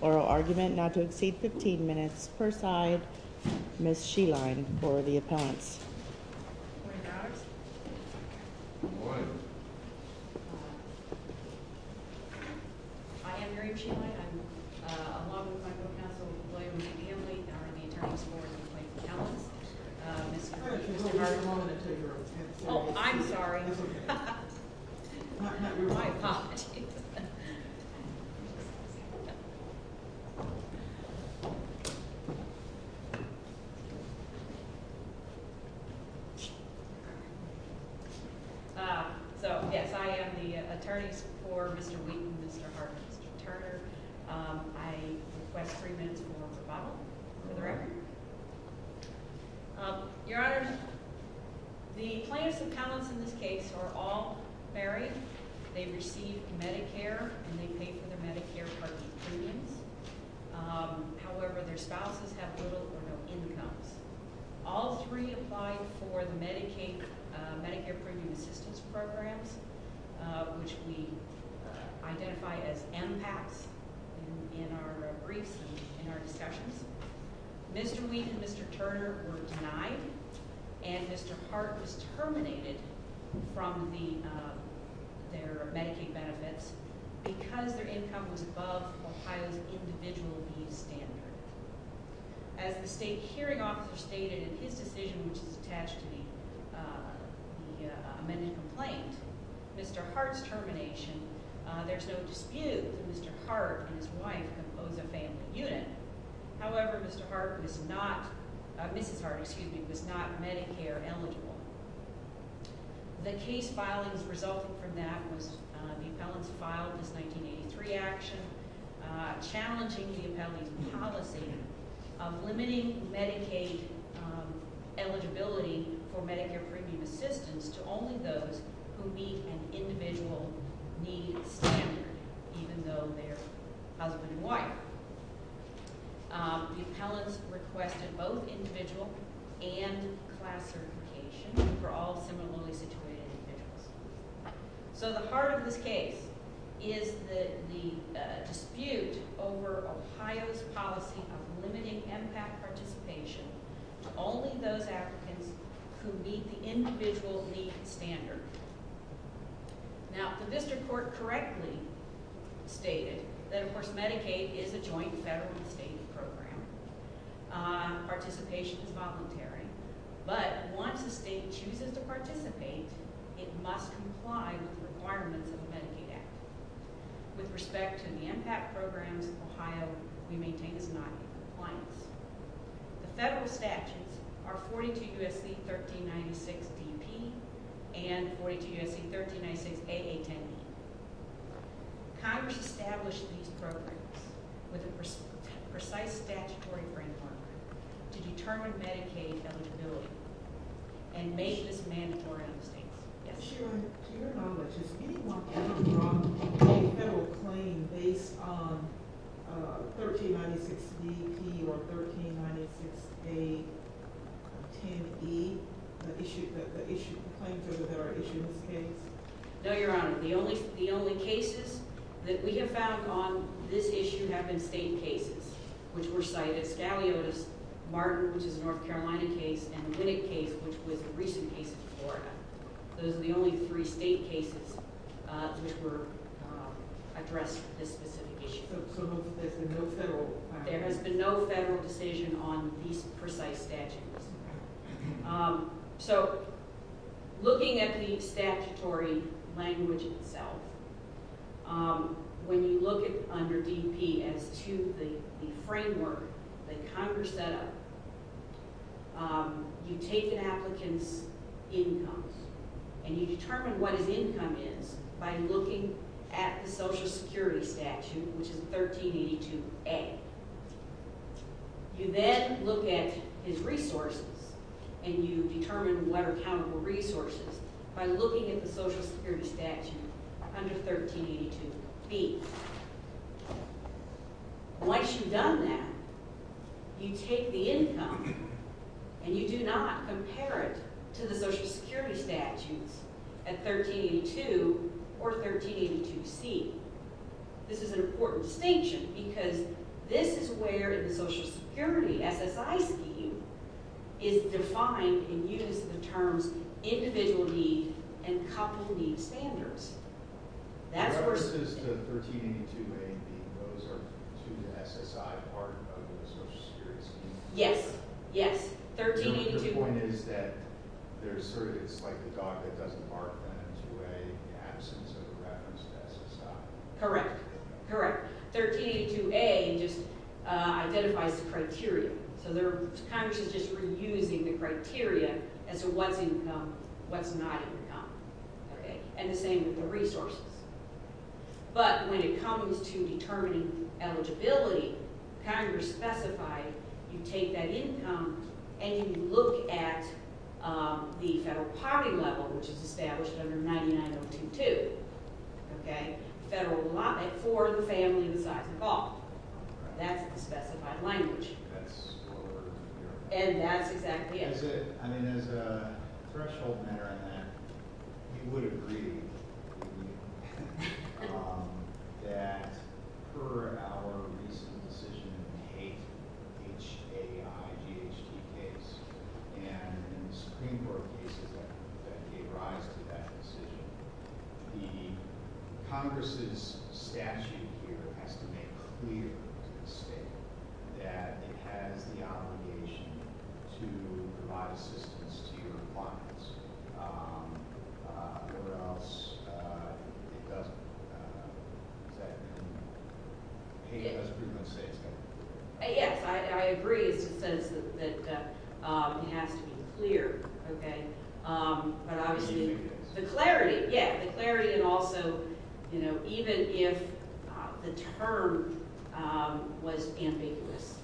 Oral argument not to exceed 15 minutes per side. Ms. Sheline for the appellants. Yes, I am the attorney for Mr. Wheaton, Mr. Hart, Mr. Turner. I request three minutes more for the record. Your Honor, the plaintiffs and appellants in this case are all married. They receive Medicare and they pay for their Medicare purchase premiums. However, their spouses have little or no incomes. All three apply for the Medicare premium assistance programs, which we identify as MPACs in our briefs and in our discussions. Mr. Wheaton and Mr. Turner were denied and Mr. Hart was terminated from their Medicaid benefits because their income was above Ohio's individual needs standard. As the state hearing officer stated in his decision, which is attached to the amended complaint, Mr. Hart's termination, there's no dispute that Mr. Hart and his wife compose a family unit. However, Mr. Hart was not – Mrs. Hart, excuse me, was not Medicare eligible. The case filings resulting from that was the appellants filed this 1983 action challenging the appellant's policy of limiting Medicaid eligibility for Medicare premium assistance to only those who meet an individual needs standard, even though they're husband and wife. The appellants requested both individual and class certification for all similarly situated individuals. So the heart of this case is the dispute over Ohio's policy of limiting MPAC participation to only those applicants who meet the individual needs standard. Now, the district court correctly stated that, of course, Medicaid is a joint federal and state program. Participation is voluntary. But once a state chooses to participate, it must comply with the requirements of the Medicaid Act. With respect to the MPAC programs in Ohio, we maintain this noncompliance. The federal statutes are 42 U.S.C. 1396DP and 42 U.S.C. 1396AA10B. Congress established these programs with a precise statutory framework to determine Medicaid eligibility and make this mandatory on the states. To your knowledge, is anyone coming from a federal claim based on 1396DP or 1396AA10B, the claims that are issued in this case? No, Your Honor. The only cases that we have found on this issue have been state cases, which were cited. Scaliotis-Martin, which is a North Carolina case, and the Winnick case, which was a recent case in Florida. Those are the only three state cases which were addressed with this specific issue. There has been no federal decision on these precise statutes. So, looking at the statutory language itself, when you look under DP as to the framework that Congress set up, you take an applicant's income and you determine what his income is by looking at the Social Security statute, which is 1382A. You then look at his resources and you determine what are countable resources by looking at the Social Security statute under 1382B. Once you've done that, you take the income and you do not compare it to the Social Security statutes at 1382 or 1382C. This is an important distinction because this is where the Social Security SSI scheme is defined and used in the terms of individual need and couple need standards. The references to 1382A and 1382B, those are to the SSI part of the Social Security scheme? So, the point is that it's like a dog that doesn't bark on a 2A in the absence of a reference to SSI? Correct. 1382A just identifies the criteria. So, Congress is just reusing the criteria as to what's income, what's not income, and the same with the resources. But, when it comes to determining eligibility, Congress specified you take that income and you look at the federal poverty level, which is established under 99022. Federal allotment for the family the size of a dog. That's the specified language. That's what we're looking for. And that's exactly it. As a threshold matter on that, we would agree with you that per our recent decision in the H.A.I. G.H.D. case and Supreme Court cases that gave rise to that decision, the Congress' statute here has to make clear to the state that it has the obligation to provide assistance to your clients, or else it doesn't. Does that make sense? It does pretty much say it's done. Yes, I agree. It says that it has to be clear. But, obviously, the clarity and also even if the term was ambiguous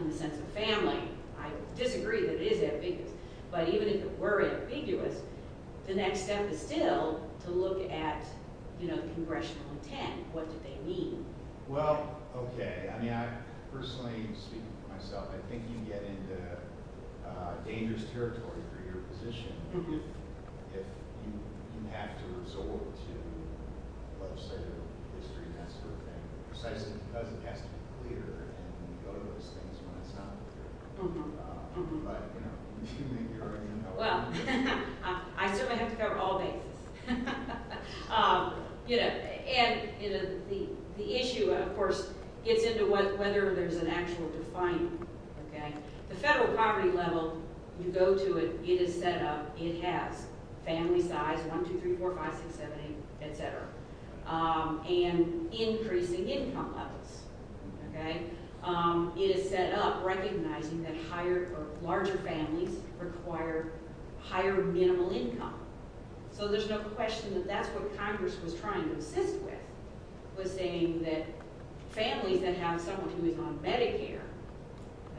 in the sense of family, I disagree that it is ambiguous. But, even if it were ambiguous, the next step is still to look at congressional intent. What do they mean? Well, okay. I mean, personally speaking for myself, I think you get into dangerous territory for your position if you have to resort to legislative history and that sort of thing. Precisely because it has to be clear and you go to those things when it's not clear. But, you know, do you think you're going to help? Well, I certainly have to cover all bases. You know, and the issue, of course, gets into whether there's an actual defining. The federal poverty level, you go to it, it is set up, it has family size 1, 2, 3, 4, 5, 6, 7, 8, etc. and increasing income levels. It is set up recognizing that larger families require higher minimal income. So, there's no question that that's what Congress was trying to assist with, was saying that families that have someone who is on Medicare,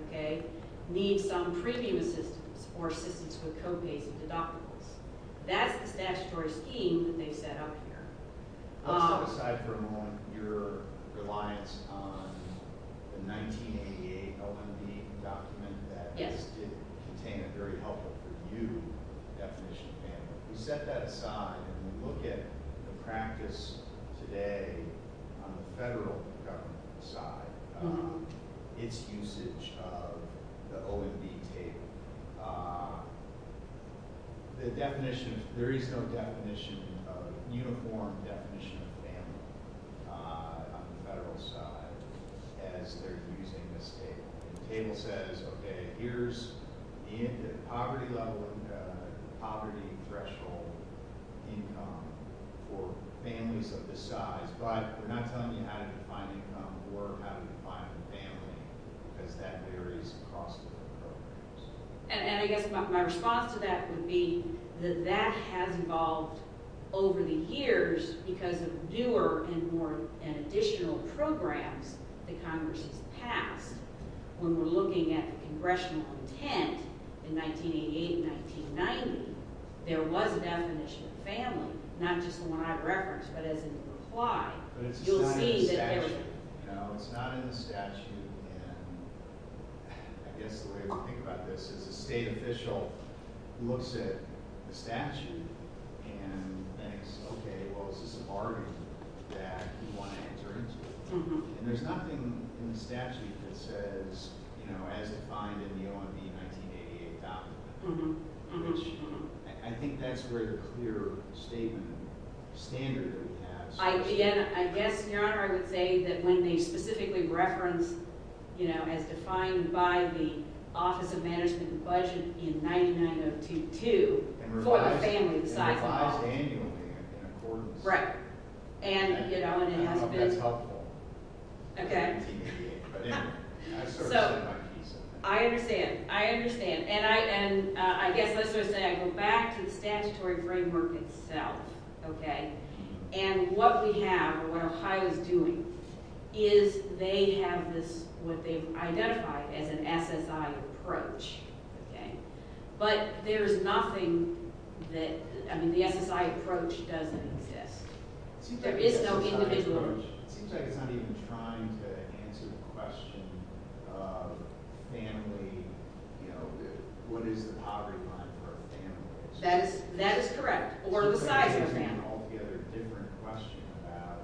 okay, need some premium assistance or assistance with co-pays and deductibles. That's the statutory scheme that they set up here. Let's set aside for a moment your reliance on the 1988 OMB document that contained a very helpful for you definition of family. We set that aside and we look at the practice today on the federal government side, its usage of the OMB table. The definition, there is no definition, uniform definition of family on the federal side as they're using this table. The table says, okay, here's the poverty threshold income for families of this size, but they're not telling you how to define income or how to define the family because that varies across different programs. And I guess my response to that would be that that has evolved over the years because of newer and more additional programs that Congress has passed. When we're looking at the congressional intent in 1988 and 1990, there was a definition of family, not just the one I've referenced, but as in reply. But it's not in the statute. No, it's not in the statute. And I guess the way we think about this is a state official looks at the statute and thinks, okay, well, is this a bargain that you want to enter into? And there's nothing in the statute that says, you know, as defined in the OMB 1988 document. I think that's a greater, clearer statement, standard that we have. I guess, Your Honor, I would say that when they specifically reference, you know, as defined by the Office of Management and Budget in 199022 for the family size. And revised annually in accordance. Right. And, you know, it has been. I hope that's helpful. Okay. So I understand. I understand. And I guess let's just say I go back to the statutory framework itself. Okay. And what we have or what Ohio is doing is they have this, what they've identified as an SSI approach. Okay. But there is nothing that, I mean, the SSI approach doesn't exist. There is no individual. It seems like it's not even trying to answer the question of family, you know, what is the poverty line for families. That is correct. Or the size of the family. It's an altogether different question about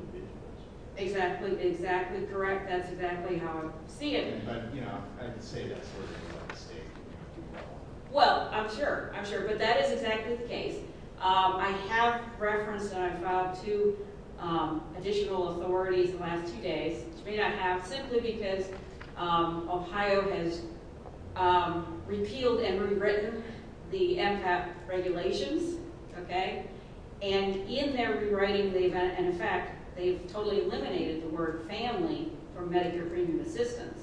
individuals. Exactly. Exactly correct. That's exactly how I'm seeing it. But, you know, I would say that's sort of a mistake. Well, I'm sure. I'm sure. But that is exactly the case. I have referenced and I've filed two additional authorities the last two days, which may not have, simply because Ohio has repealed and rewritten the MCAP regulations. Okay. And in their rewriting, they've, in effect, they've totally eliminated the word family from Medicare premium assistance.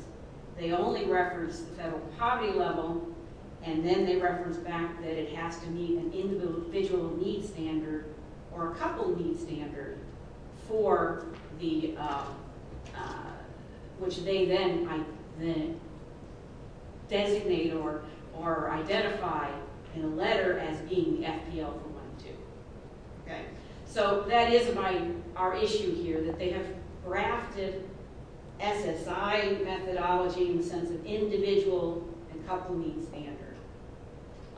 They only reference the federal poverty level, and then they reference back that it has to meet an individual need standard or a couple need standard for the, which they then designate or identify in a letter as being FPL-01-2. Okay. So that is my, our issue here, that they have drafted SSI methodology in the sense of individual and couple need standard.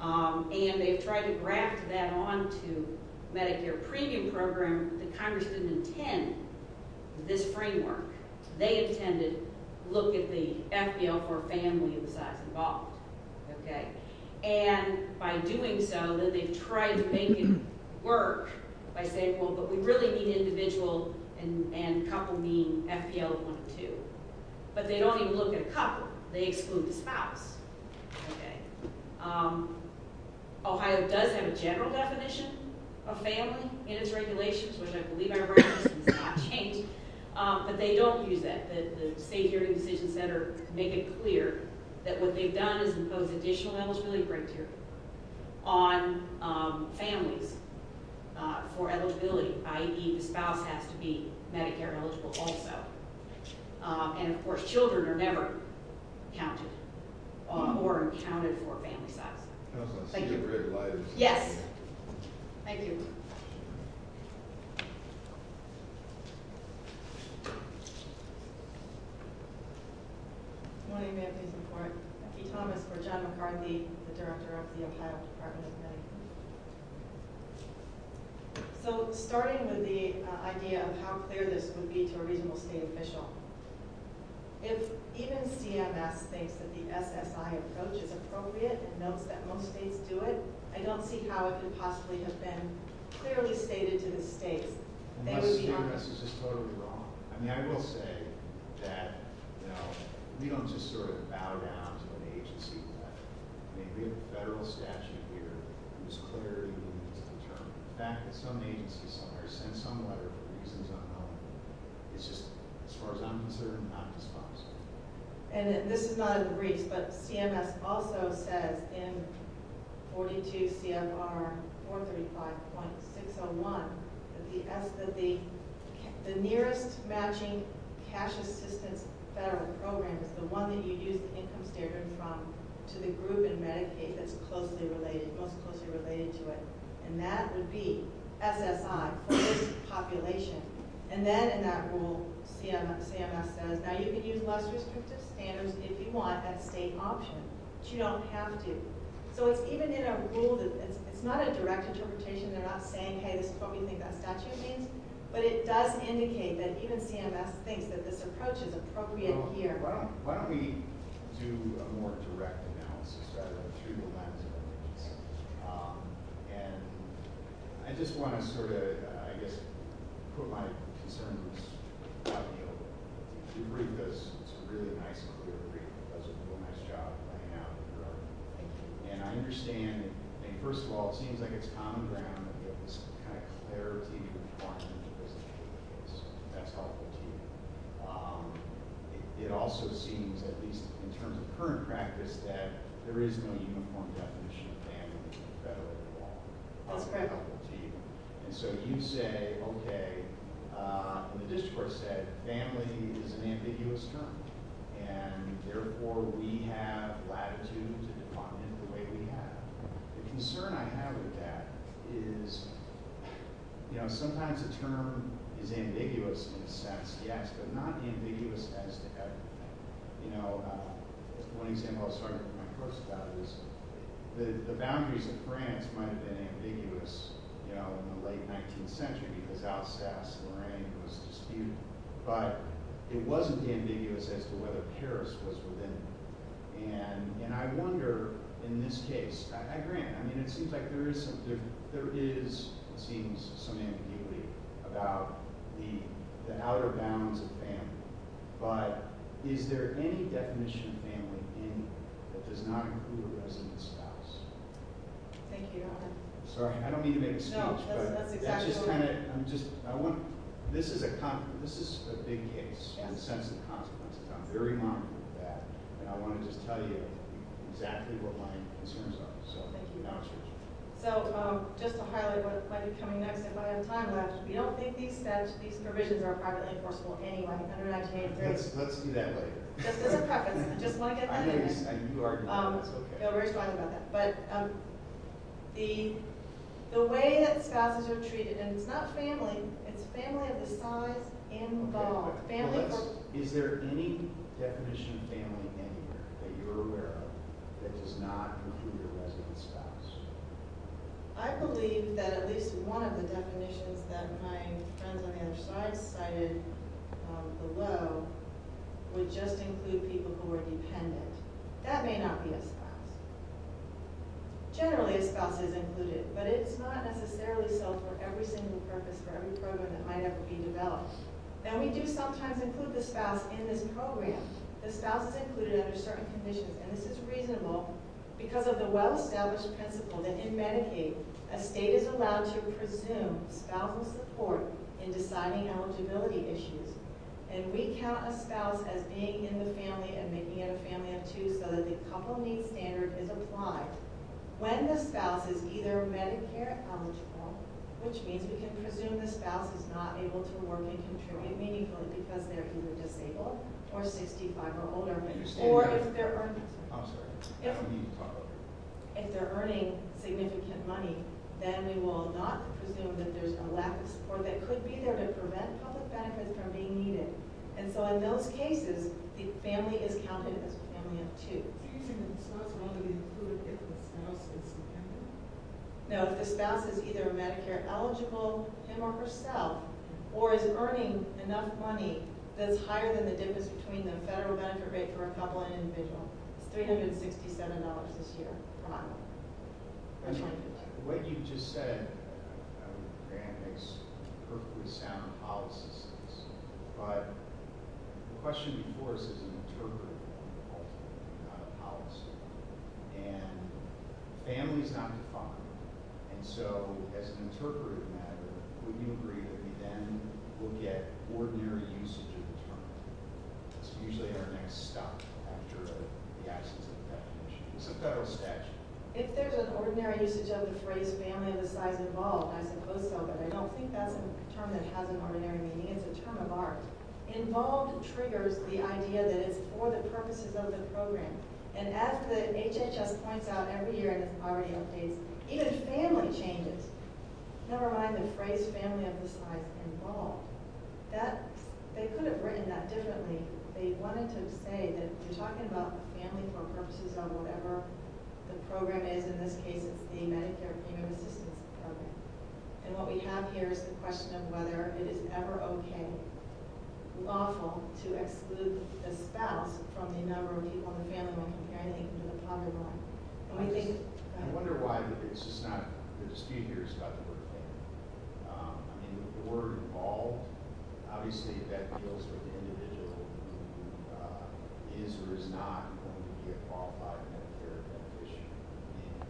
And they've tried to draft that onto Medicare premium program that Congress didn't intend this framework. They intended look at the FPL for family and the size involved. Okay. And by doing so, then they've tried to make it work by saying, well, but we really need individual and couple need FPL-01-2. But they don't even look at a couple. They exclude the spouse. Okay. Ohio does have a general definition of family in its regulations, which I believe I referenced and it's not changed, but they don't use that. The State Hearing Decision Center make it clear that what they've done is impose additional eligibility criteria on families for eligibility, i.e., the spouse has to be Medicare eligible also. And, of course, children are never counted or accounted for family size. Thank you. Yes. Thank you. Good morning. May I please report? I'm P. Thomas for John McCarthy, the Director of the Ohio Department of Medicaid. So, starting with the idea of how clear this would be to a reasonable state official, if even CMS thinks that the SSI approach is appropriate and notes that most states do it, I don't see how it could possibly have been clearly stated to the states. Unless CMS is just totally wrong. I mean, I will say that, you know, we don't just sort of bow down to an agency letter. I mean, we have a federal statute here that was clearly determined. The fact that some agencies send some letter for reasons I don't know, it's just, as far as I'm concerned, not disposed. And this is not in Greece, but CMS also says in 42 CFR 435.601 that the nearest matching cash assistance federal program is the one that you use the income standard from to the group in Medicaid that's closely related, most closely related to it. And that would be SSI for this population. And then in that rule, CMS says, now you can use less restrictive standards if you want at state option, but you don't have to. So, it's even in a rule, it's not a direct interpretation, they're not saying, hey, this is what we think that statute means, but it does indicate that even CMS thinks that this approach is appropriate here. Okay, why don't we do a more direct analysis rather than through the lens of evidence. And I just want to sort of, I guess, put my concerns out in the open. If you read this, it's a really nice and clear brief. It does a real nice job of laying out the ground. And I understand, I mean, first of all, it seems like it's common ground to get this kind of clarity and information into this issue. That's helpful to you. It also seems, at least in terms of current practice, that there is no uniform definition of family in the federal law. That's correct. To you. And so you say, okay, the discourse said, family is an ambiguous term. And therefore, we have latitude and department the way we have. The concern I have with that is, you know, sometimes a term is ambiguous in a sense, yes, but not ambiguous as to everything. You know, one example I'll start with my first thought is the boundaries of France might have been ambiguous, you know, in the late 19th century because Alsace-Lorraine was disputed. But it wasn't ambiguous as to whether Paris was within it. And I wonder, in this case, I agree. I mean, it seems like there is some ambiguity about the outer bounds of family. But is there any definition of family in that does not include a resident spouse? Thank you. Sorry, I don't mean to make a speech. No, that's exactly right. This is a big case in the sense of consequences. I'm very modern with that. And I want to just tell you exactly what my concerns are. Thank you. So just to highlight what might be coming next and what I have time left, we don't think these provisions are privately enforceable anyway under 1983. Let's do that later. Just as a preface. I just want to get that in there. You already know that. Okay. We already talked about that. But the way that spouses are treated, and it's not family, it's family of the size involved. Is there any definition of family in here that you're aware of that does not include a resident spouse? I believe that at least one of the definitions that my friends on the other side cited below would just include people who are dependent. That may not be a spouse. Generally, a spouse is included, but it's not necessarily so for every single purpose, for every program that might ever be developed. Now, we do sometimes include the spouse in this program. The spouse is included under certain conditions, and this is reasonable because of the well-established principle that in Medicaid, a state is allowed to presume spousal support in deciding eligibility issues. And we count a spouse as being in the family and making it a family of two so that the couple needs standard is applied. When the spouse is either Medicare eligible, which means we can presume the spouse is not able to work and contribute meaningfully because they're either disabled or 65 or older, or if they're earning significant money, then we will not presume that there's a lack of support that could be there to prevent public benefits from being needed. And so in those cases, the family is counted as a family of two. And the spouse may be included if the spouse is in the family? No, if the spouse is either Medicare eligible, him or herself, or is earning enough money that's higher than the difference between the federal benefit rate for a couple and an individual. It's $367 this year. What you just said makes perfectly sound policies, but the question before us is an interpretive policy. And family is not defined, and so as an interpretive matter, would you agree that we then will get ordinary usage of the term? That's usually our next stop after the absence of the definition. It's a federal statute. If there's an ordinary usage of the phrase family of a size involved, I suppose so, but I don't think that's a term that has an ordinary meaning. It's a term of art. Involved triggers the idea that it's for the purposes of the program. And as the HHS points out every year in the priority updates, even family changes. Never mind the phrase family of a size involved. They could have written that differently. They wanted to say that we're talking about family for purposes of whatever the program is. In this case, it's the Medicare premium assistance program. And what we have here is the question of whether it is ever okay, lawful, to exclude the spouse from the number of people in the family when comparing it to the poverty line. I wonder why the dispute here is about the word family. I mean, the word involved, obviously that deals with the individual who is or is not going to be involved by the Medicare definition. And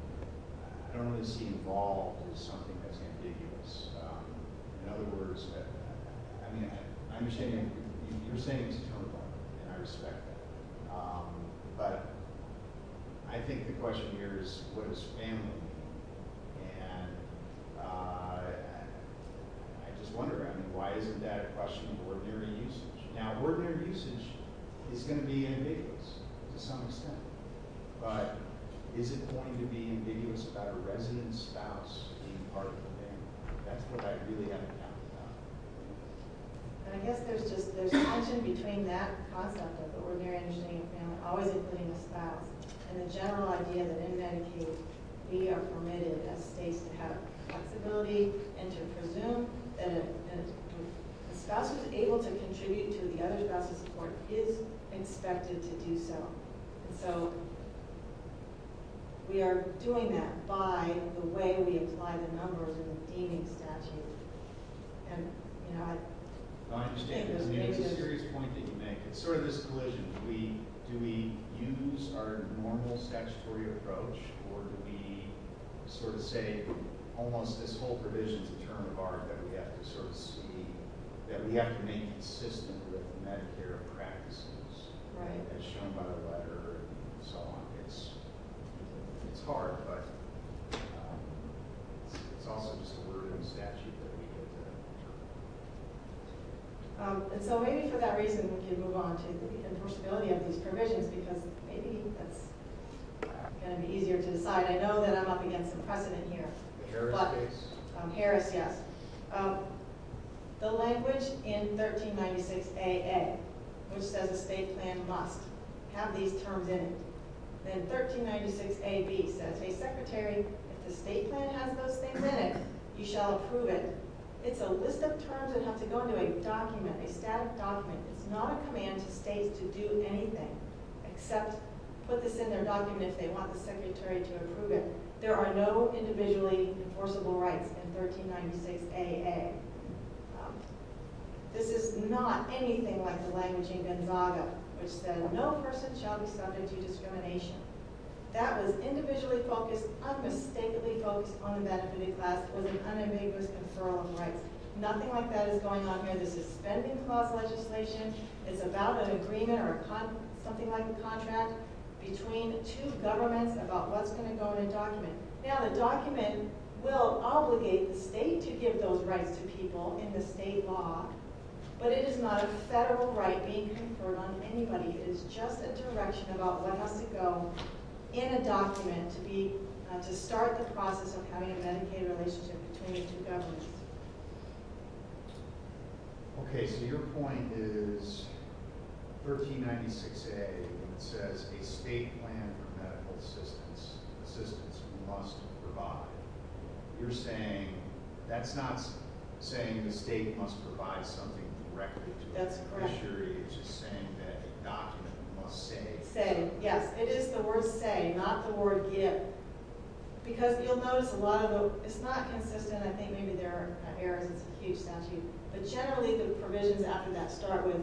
I don't really see involved as something that's ambiguous. In other words, I mean, I'm ashamed. You're saying it's a term of art, and I respect that. But I think the question here is what does family mean? And I just wonder, I mean, why isn't that a question of ordinary usage? Now, ordinary usage is going to be ambiguous to some extent. But is it going to be ambiguous about a resident spouse being part of the family? That's what I really haven't thought about. And I guess there's tension between that concept of the ordinary engineering family, always including the spouse, and the general idea that in Medicare we are permitted as states to have flexibility and to presume that a spouse who is able to contribute to the other spouse's support is expected to do so. And so we are doing that by the way we apply the numbers in the deeming statute. I understand. It's a serious point that you make. It's sort of this collision. Do we use our normal statutory approach, or do we sort of say almost this whole provision is a term of art that we have to sort of see, that we have to remain consistent with Medicare practices as shown by the letter and so on? It's hard, but it's also just a word in the statute that we give the term. And so maybe for that reason, we can move on to the enforceability of these provisions, because maybe that's going to be easier to decide. I know that I'm up against some precedent here. Harris case? Harris, yes. The language in 1396AA, which says a state plan must have these terms in it. Then 1396AB says, hey, Secretary, if the state plan has those things in it, you shall approve it. It's a list of terms that have to go into a document, a static document. It's not a command to states to do anything except put this in their document if they want the Secretary to approve it. There are no individually enforceable rights in 1396AA. This is not anything like the language in Gonzaga, which says no person shall be subject to discrimination. That was individually focused, unmistakably focused on the benefited class with an unambiguous conferral of rights. Nothing like that is going on here. This is spending clause legislation. It's about an agreement or something like a contract between two governments about what's going to go in a document. Now, the document will obligate the state to give those rights to people in the state law, but it is not a federal right being conferred on anybody. It's just a direction about what has to go in a document to start the process of having a Medicaid relationship between the two governments. Okay, so your point is 1396A says a state plan for medical assistance must provide. You're saying that's not saying the state must provide something directly to the Secretary. That's correct. You're just saying that a document must say. Say, yes. It is the word say, not the word give. Because you'll notice a lot of the – it's not consistent. I think maybe there are errors. It's a huge statute. But generally, the provisions after that start with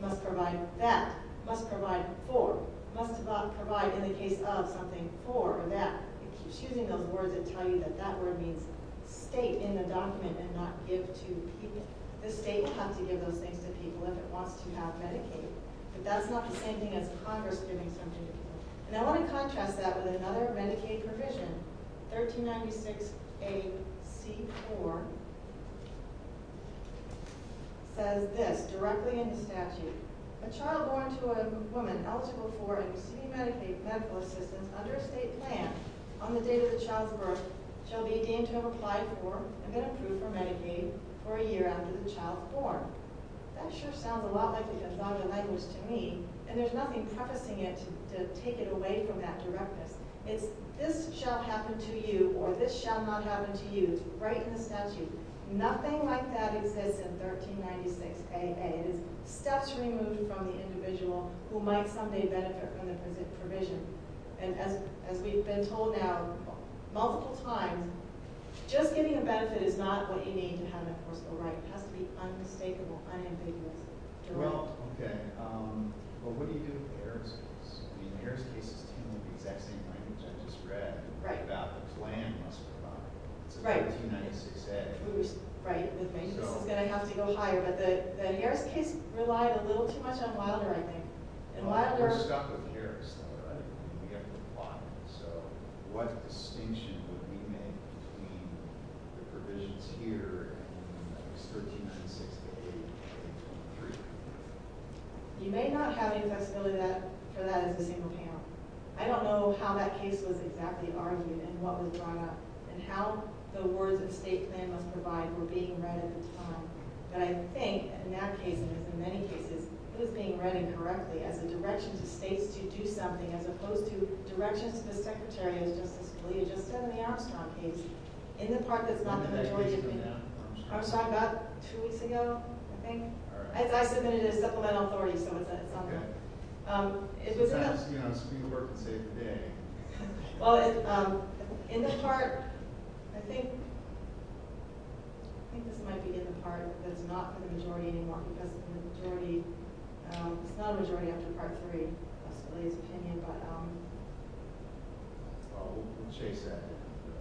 must provide that, must provide for, must provide in the case of something for that. It keeps using those words that tell you that that word means state in the document and not give to people. The state has to give those things to people if it wants to have Medicaid, but that's not the same thing as Congress giving something to people. And I want to contrast that with another Medicaid provision. 1396AC4 says this directly in the statute. A child born to a woman eligible for and receiving Medicaid medical assistance under a state plan on the date of the child's birth shall be deemed to have applied for and been approved for Medicaid for a year after the child is born. That sure sounds a lot like a larger language to me. And there's nothing prefacing it to take it away from that directness. It's this shall happen to you or this shall not happen to you. It's right in the statute. Nothing like that exists in 1396AA. It is steps removed from the individual who might someday benefit from the provision. And as we've been told now multiple times, just getting a benefit is not what you need to have, of course, a right. It has to be unmistakable, unambiguous. Well, okay. But what do you do with Harris cases? I mean, Harris cases tend to be the exact same language I just read about the plan must provide. It's a 1396AA. Right. This is going to have to go higher. But the Harris case relied a little too much on Wilder, I think. Well, we're stuck with Harris, though, right? We have to apply. So what distinction would we make between the provisions here in 1396AA and 1393? You may not have any flexibility for that as a single panel. I don't know how that case was exactly argued and what was brought up and how the words of state plan must provide were being read at the time. But I think in that case, and in many cases, it was being read incorrectly as a direction to states to do something as opposed to directions to the Secretary, as Justice Scalia just said in the Armstrong case, in the part that's not the majority opinion. Armstrong got two weeks ago, I think. All right. I submitted it as supplemental authority, so it's not that. Okay. If it was enough— Perhaps the Supreme Court could say today. Well, in the part—I think this might be in the part that it's not the majority anymore because it's not a majority after Part III, Justice Scalia's opinion, but— Well, we'll chase that.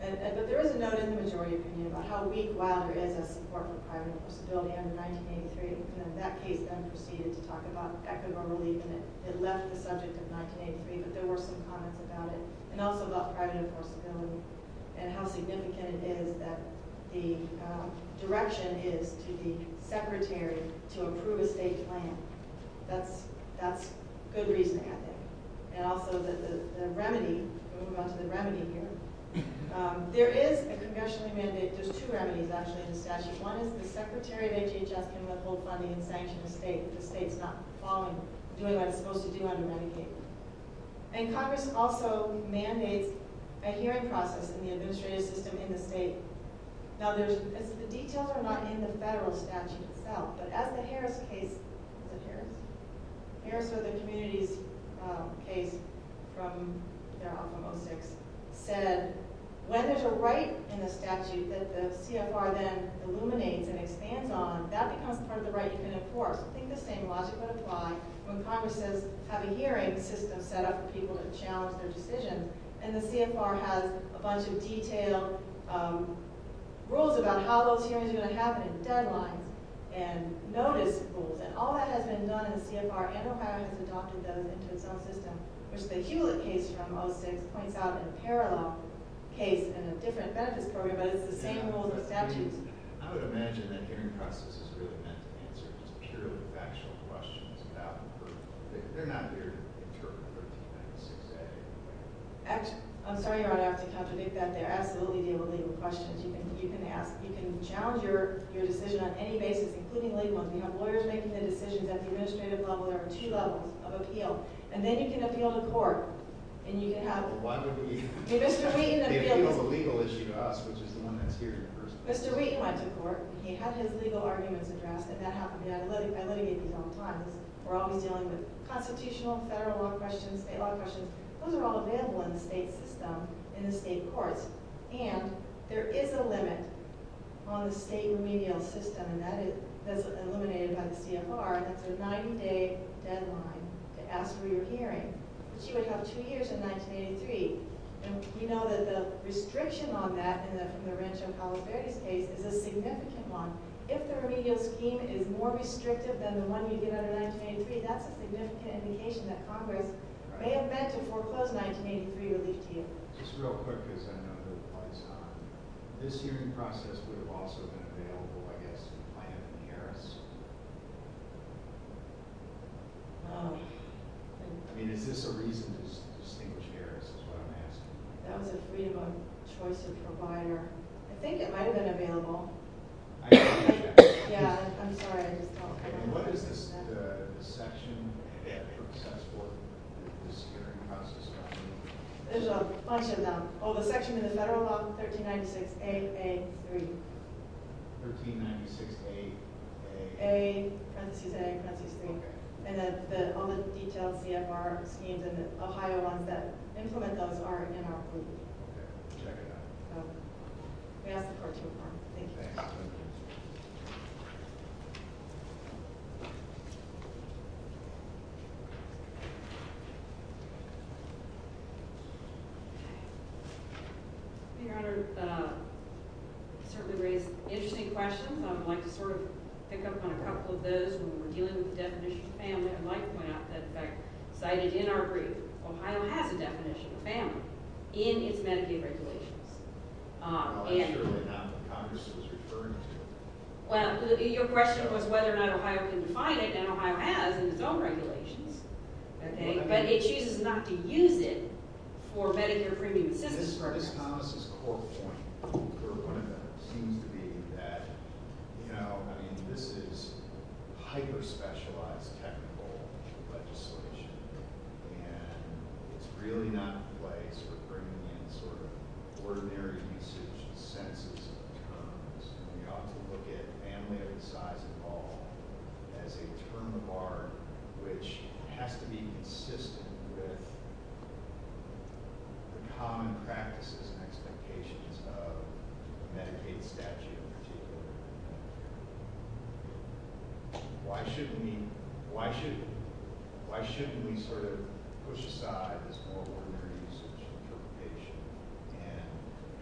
But there is a note in the majority opinion about how weak Wilder is as support for private responsibility under 1983. And in that case, then, proceeded to talk about equitable relief, and it left the subject of 1983. But there were some comments about it, and also about private enforceability, and how significant it is that the direction is to the Secretary to approve a state plan. That's good reason, I think. And also, the remedy—we'll move on to the remedy here. There is a conventionally mandated—there's two remedies, actually, in the statute. One is the Secretary of HHS can withhold funding and sanction a state if the state's not doing what it's supposed to do under Medicaid. And Congress also mandates a hearing process in the administrative system in the state. Now, the details are not in the federal statute itself, but as the Harris case— Was it Harris? Harris or the communities case from their optimal six said, when there's a right in the statute that the CFR then illuminates and expands on, that becomes part of the right you can enforce. I think the same logic would apply when Congress says, have a hearing system set up for people to challenge their decision, and the CFR has a bunch of detailed rules about how those hearings are going to happen, and deadlines, and notice rules. And all that has been done in the CFR, and Ohio has adopted those into its own system, which the Hewlett case from 06 points out in a parallel case in a different benefits program, but it's the same rules and statutes. I would imagine that hearing process is really meant to answer just purely factual questions. They're not here to interpret 1396A. I'm sorry, Your Honor, I have to contradict that. There are absolutely legal questions you can ask. You can challenge your decision on any basis, including legal. We have lawyers making the decisions at the administrative level. There are two levels of appeal. And then you can appeal to court, and you can have— Why would we— Mr. Wheaton appeals— The appeal is a legal issue to us, which is the one that's here in person. Mr. Wheaton went to court. He had his legal arguments addressed, and that happened. I litigate these all the time. We're always dealing with constitutional, federal law questions, state law questions. Those are all available in the state system, in the state courts. And there is a limit on the state remedial system, and that is eliminated by the CFR. That's a 90-day deadline to ask for your hearing, which you would have two years in 1983. And we know that the restriction on that, in the Laurentian-Palos Verdes case, is a significant one. If the remedial scheme is more restrictive than the one you get under 1983, that's a significant indication that Congress may have meant to foreclose 1983 relief to you. Just real quick, because I know this applies to all of you. This hearing process would have also been available, I guess, if you planned it in Harris. I mean, is this a reason to distinguish Harris is what I'm asking. That was a freedom of choice of provider. I think it might have been available. Yeah, I'm sorry, I just talked. What is the section in the process for this hearing process? There's a bunch of them. Oh, the section in the federal law, 1396A-A-3. 1396A-A. A, parenthesis A, parenthesis B. Okay. And all the detailed CFR schemes and Ohio ones that implement those are in our review. Okay. Check it out. We ask the court to inform. Thank you. Thanks. Thank you. Your Honor, you certainly raised interesting questions. I would like to sort of pick up on a couple of those. When we're dealing with the definition of family, I'd like to point out that, in fact, cited in our brief, Ohio has a definition of family in its Medicaid regulations. I'm sure they're not what Congress is referring to. Well, your question was whether or not Ohio can define it, and Ohio has in its own regulations. Okay. But it chooses not to use it for Medicare premium assistance programs. Ms. Thomas' core point for one of them seems to be that, you know, I mean, this is hyper-specialized technical legislation, and it's really not in place for bringing in sort of ordinary usage and senses of terms. And we ought to look at family of the size of all as a term of art, which has to be consistent with the common practices and expectations of the Medicaid statute in particular. Why shouldn't we sort of push aside this more ordinary use of social interpretation and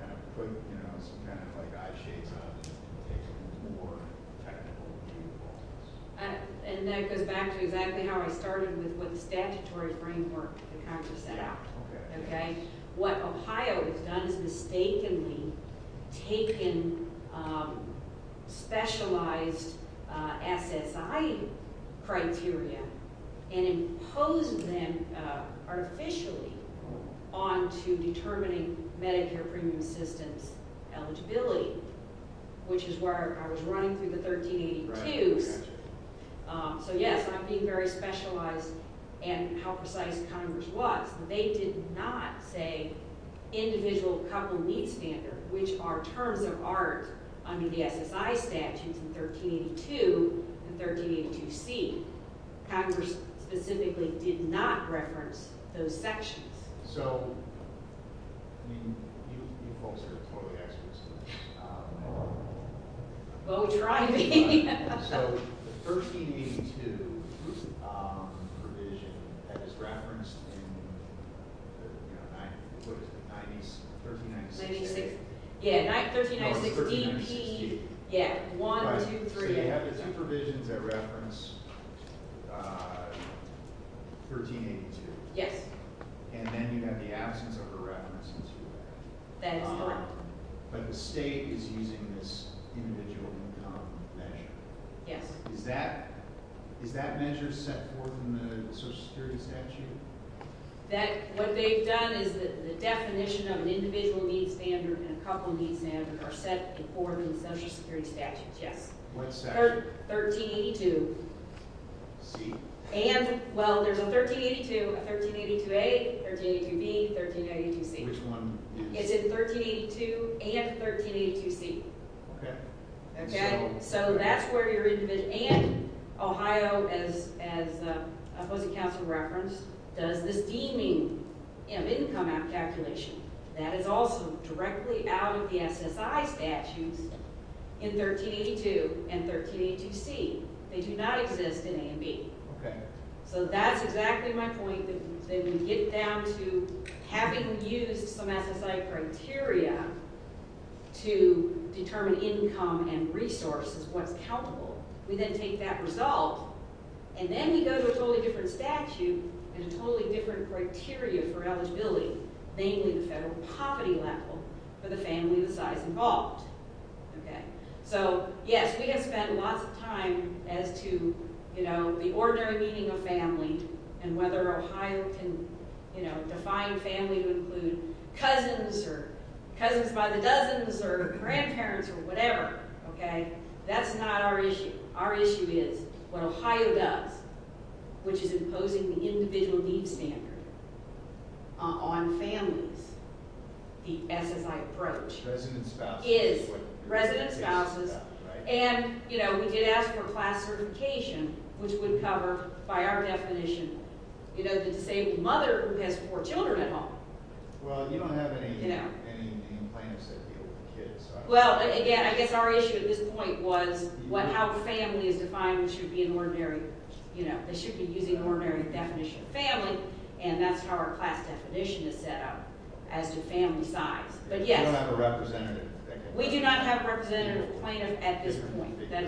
kind of put, you know, some kind of like eye shades on it and take a more technical view of all this? And that goes back to exactly how I started with what statutory framework the Congress set out. Okay. What Ohio has done is mistakenly taken specialized SSI criteria and imposed them artificially onto determining Medicare premium assistance eligibility, which is where I was running through the 1382s. So, yes, I'm being very specialized in how precise Congress was. They did not say individual couple need standard, which are terms of art under the SSI statutes in 1382 and 1382C. Congress specifically did not reference those sections. So, I mean, you folks are totally experts in this. Oh, try me. So, the 1382 provision that is referenced in 1396. Yeah, 1396DP. Yeah, one, two, three. So, you have the two provisions that reference 1382. Yes. And then you have the absence of a reference into that. That is correct. But the state is using this individual income measure. Yes. Is that measure set forth in the Social Security statute? What they've done is the definition of an individual need standard and a couple need standard are set forth in Social Security statutes, yes. What statute? 1382. C. And, well, there's a 1382, a 1382A, 1382B, 1382C. Which one? It's in 1382 and 1382C. Okay. Okay? So, that's where your individual and Ohio, as opposing counsel referenced, does this deeming of income calculation. That is also directly out of the SSI statutes in 1382 and 1382C. They do not exist in A and B. Okay. So, that's exactly my point. Then we get down to having used some SSI criteria to determine income and resources, what's countable. We then take that result, and then we go to a totally different statute and a totally different criteria for eligibility, namely the federal poverty level for the family of the size involved. Okay. And whether Ohio can, you know, define family to include cousins or cousins by the dozens or grandparents or whatever, okay, that's not our issue. Our issue is what Ohio does, which is imposing the individual need standard on families, the SSI approach. Resident spouses. Resident spouses. And, you know, we did ask for class certification, which would cover, by our definition, you know, the disabled mother who has four children at home. Well, you don't have any plans to deal with kids. Well, again, I guess our issue at this point was how family is defined should be an ordinary, you know, they should be using an ordinary definition of family, and that's how our class definition is set up as to family size. But, yes. We don't have a representative. We do not have a representative plaintiff at this point. That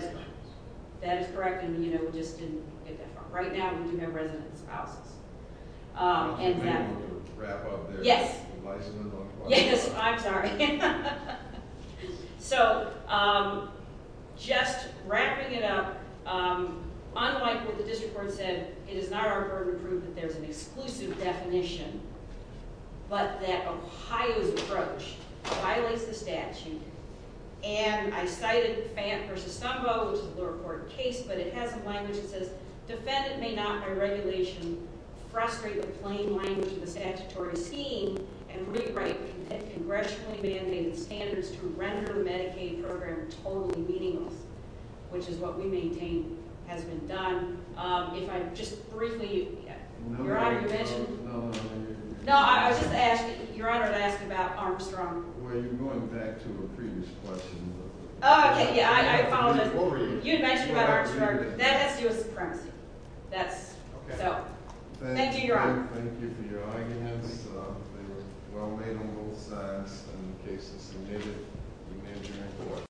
is correct. And, you know, we just didn't get that far. Right now, we do have resident spouses. And that will wrap up their license. Yes. Yes, I'm sorry. So, just wrapping it up, unlike what the district court said, it is not our burden to prove that there's an exclusive definition, but that Ohio's approach violates the statute. And I cited Phan v. Stumbo, which is a lower court case, but it has some language that says defendant may not by regulation frustrate the plain language of the statutory scheme and rewrite the congressionally mandated standards to render the Medicaid program totally meaningless, which is what we maintain has been done. If I just briefly – Your Honor, you mentioned – No, no, no. No, I was just asking – Your Honor had asked about Armstrong. Well, you're going back to a previous question. Oh, okay. Yeah, I followed up. What were you? You had mentioned about Armstrong. That has to do with supremacy. That's – Okay. So, thank you, Your Honor. Thank you for your arguments. They were well made on both sides. In the cases submitted, you made your point.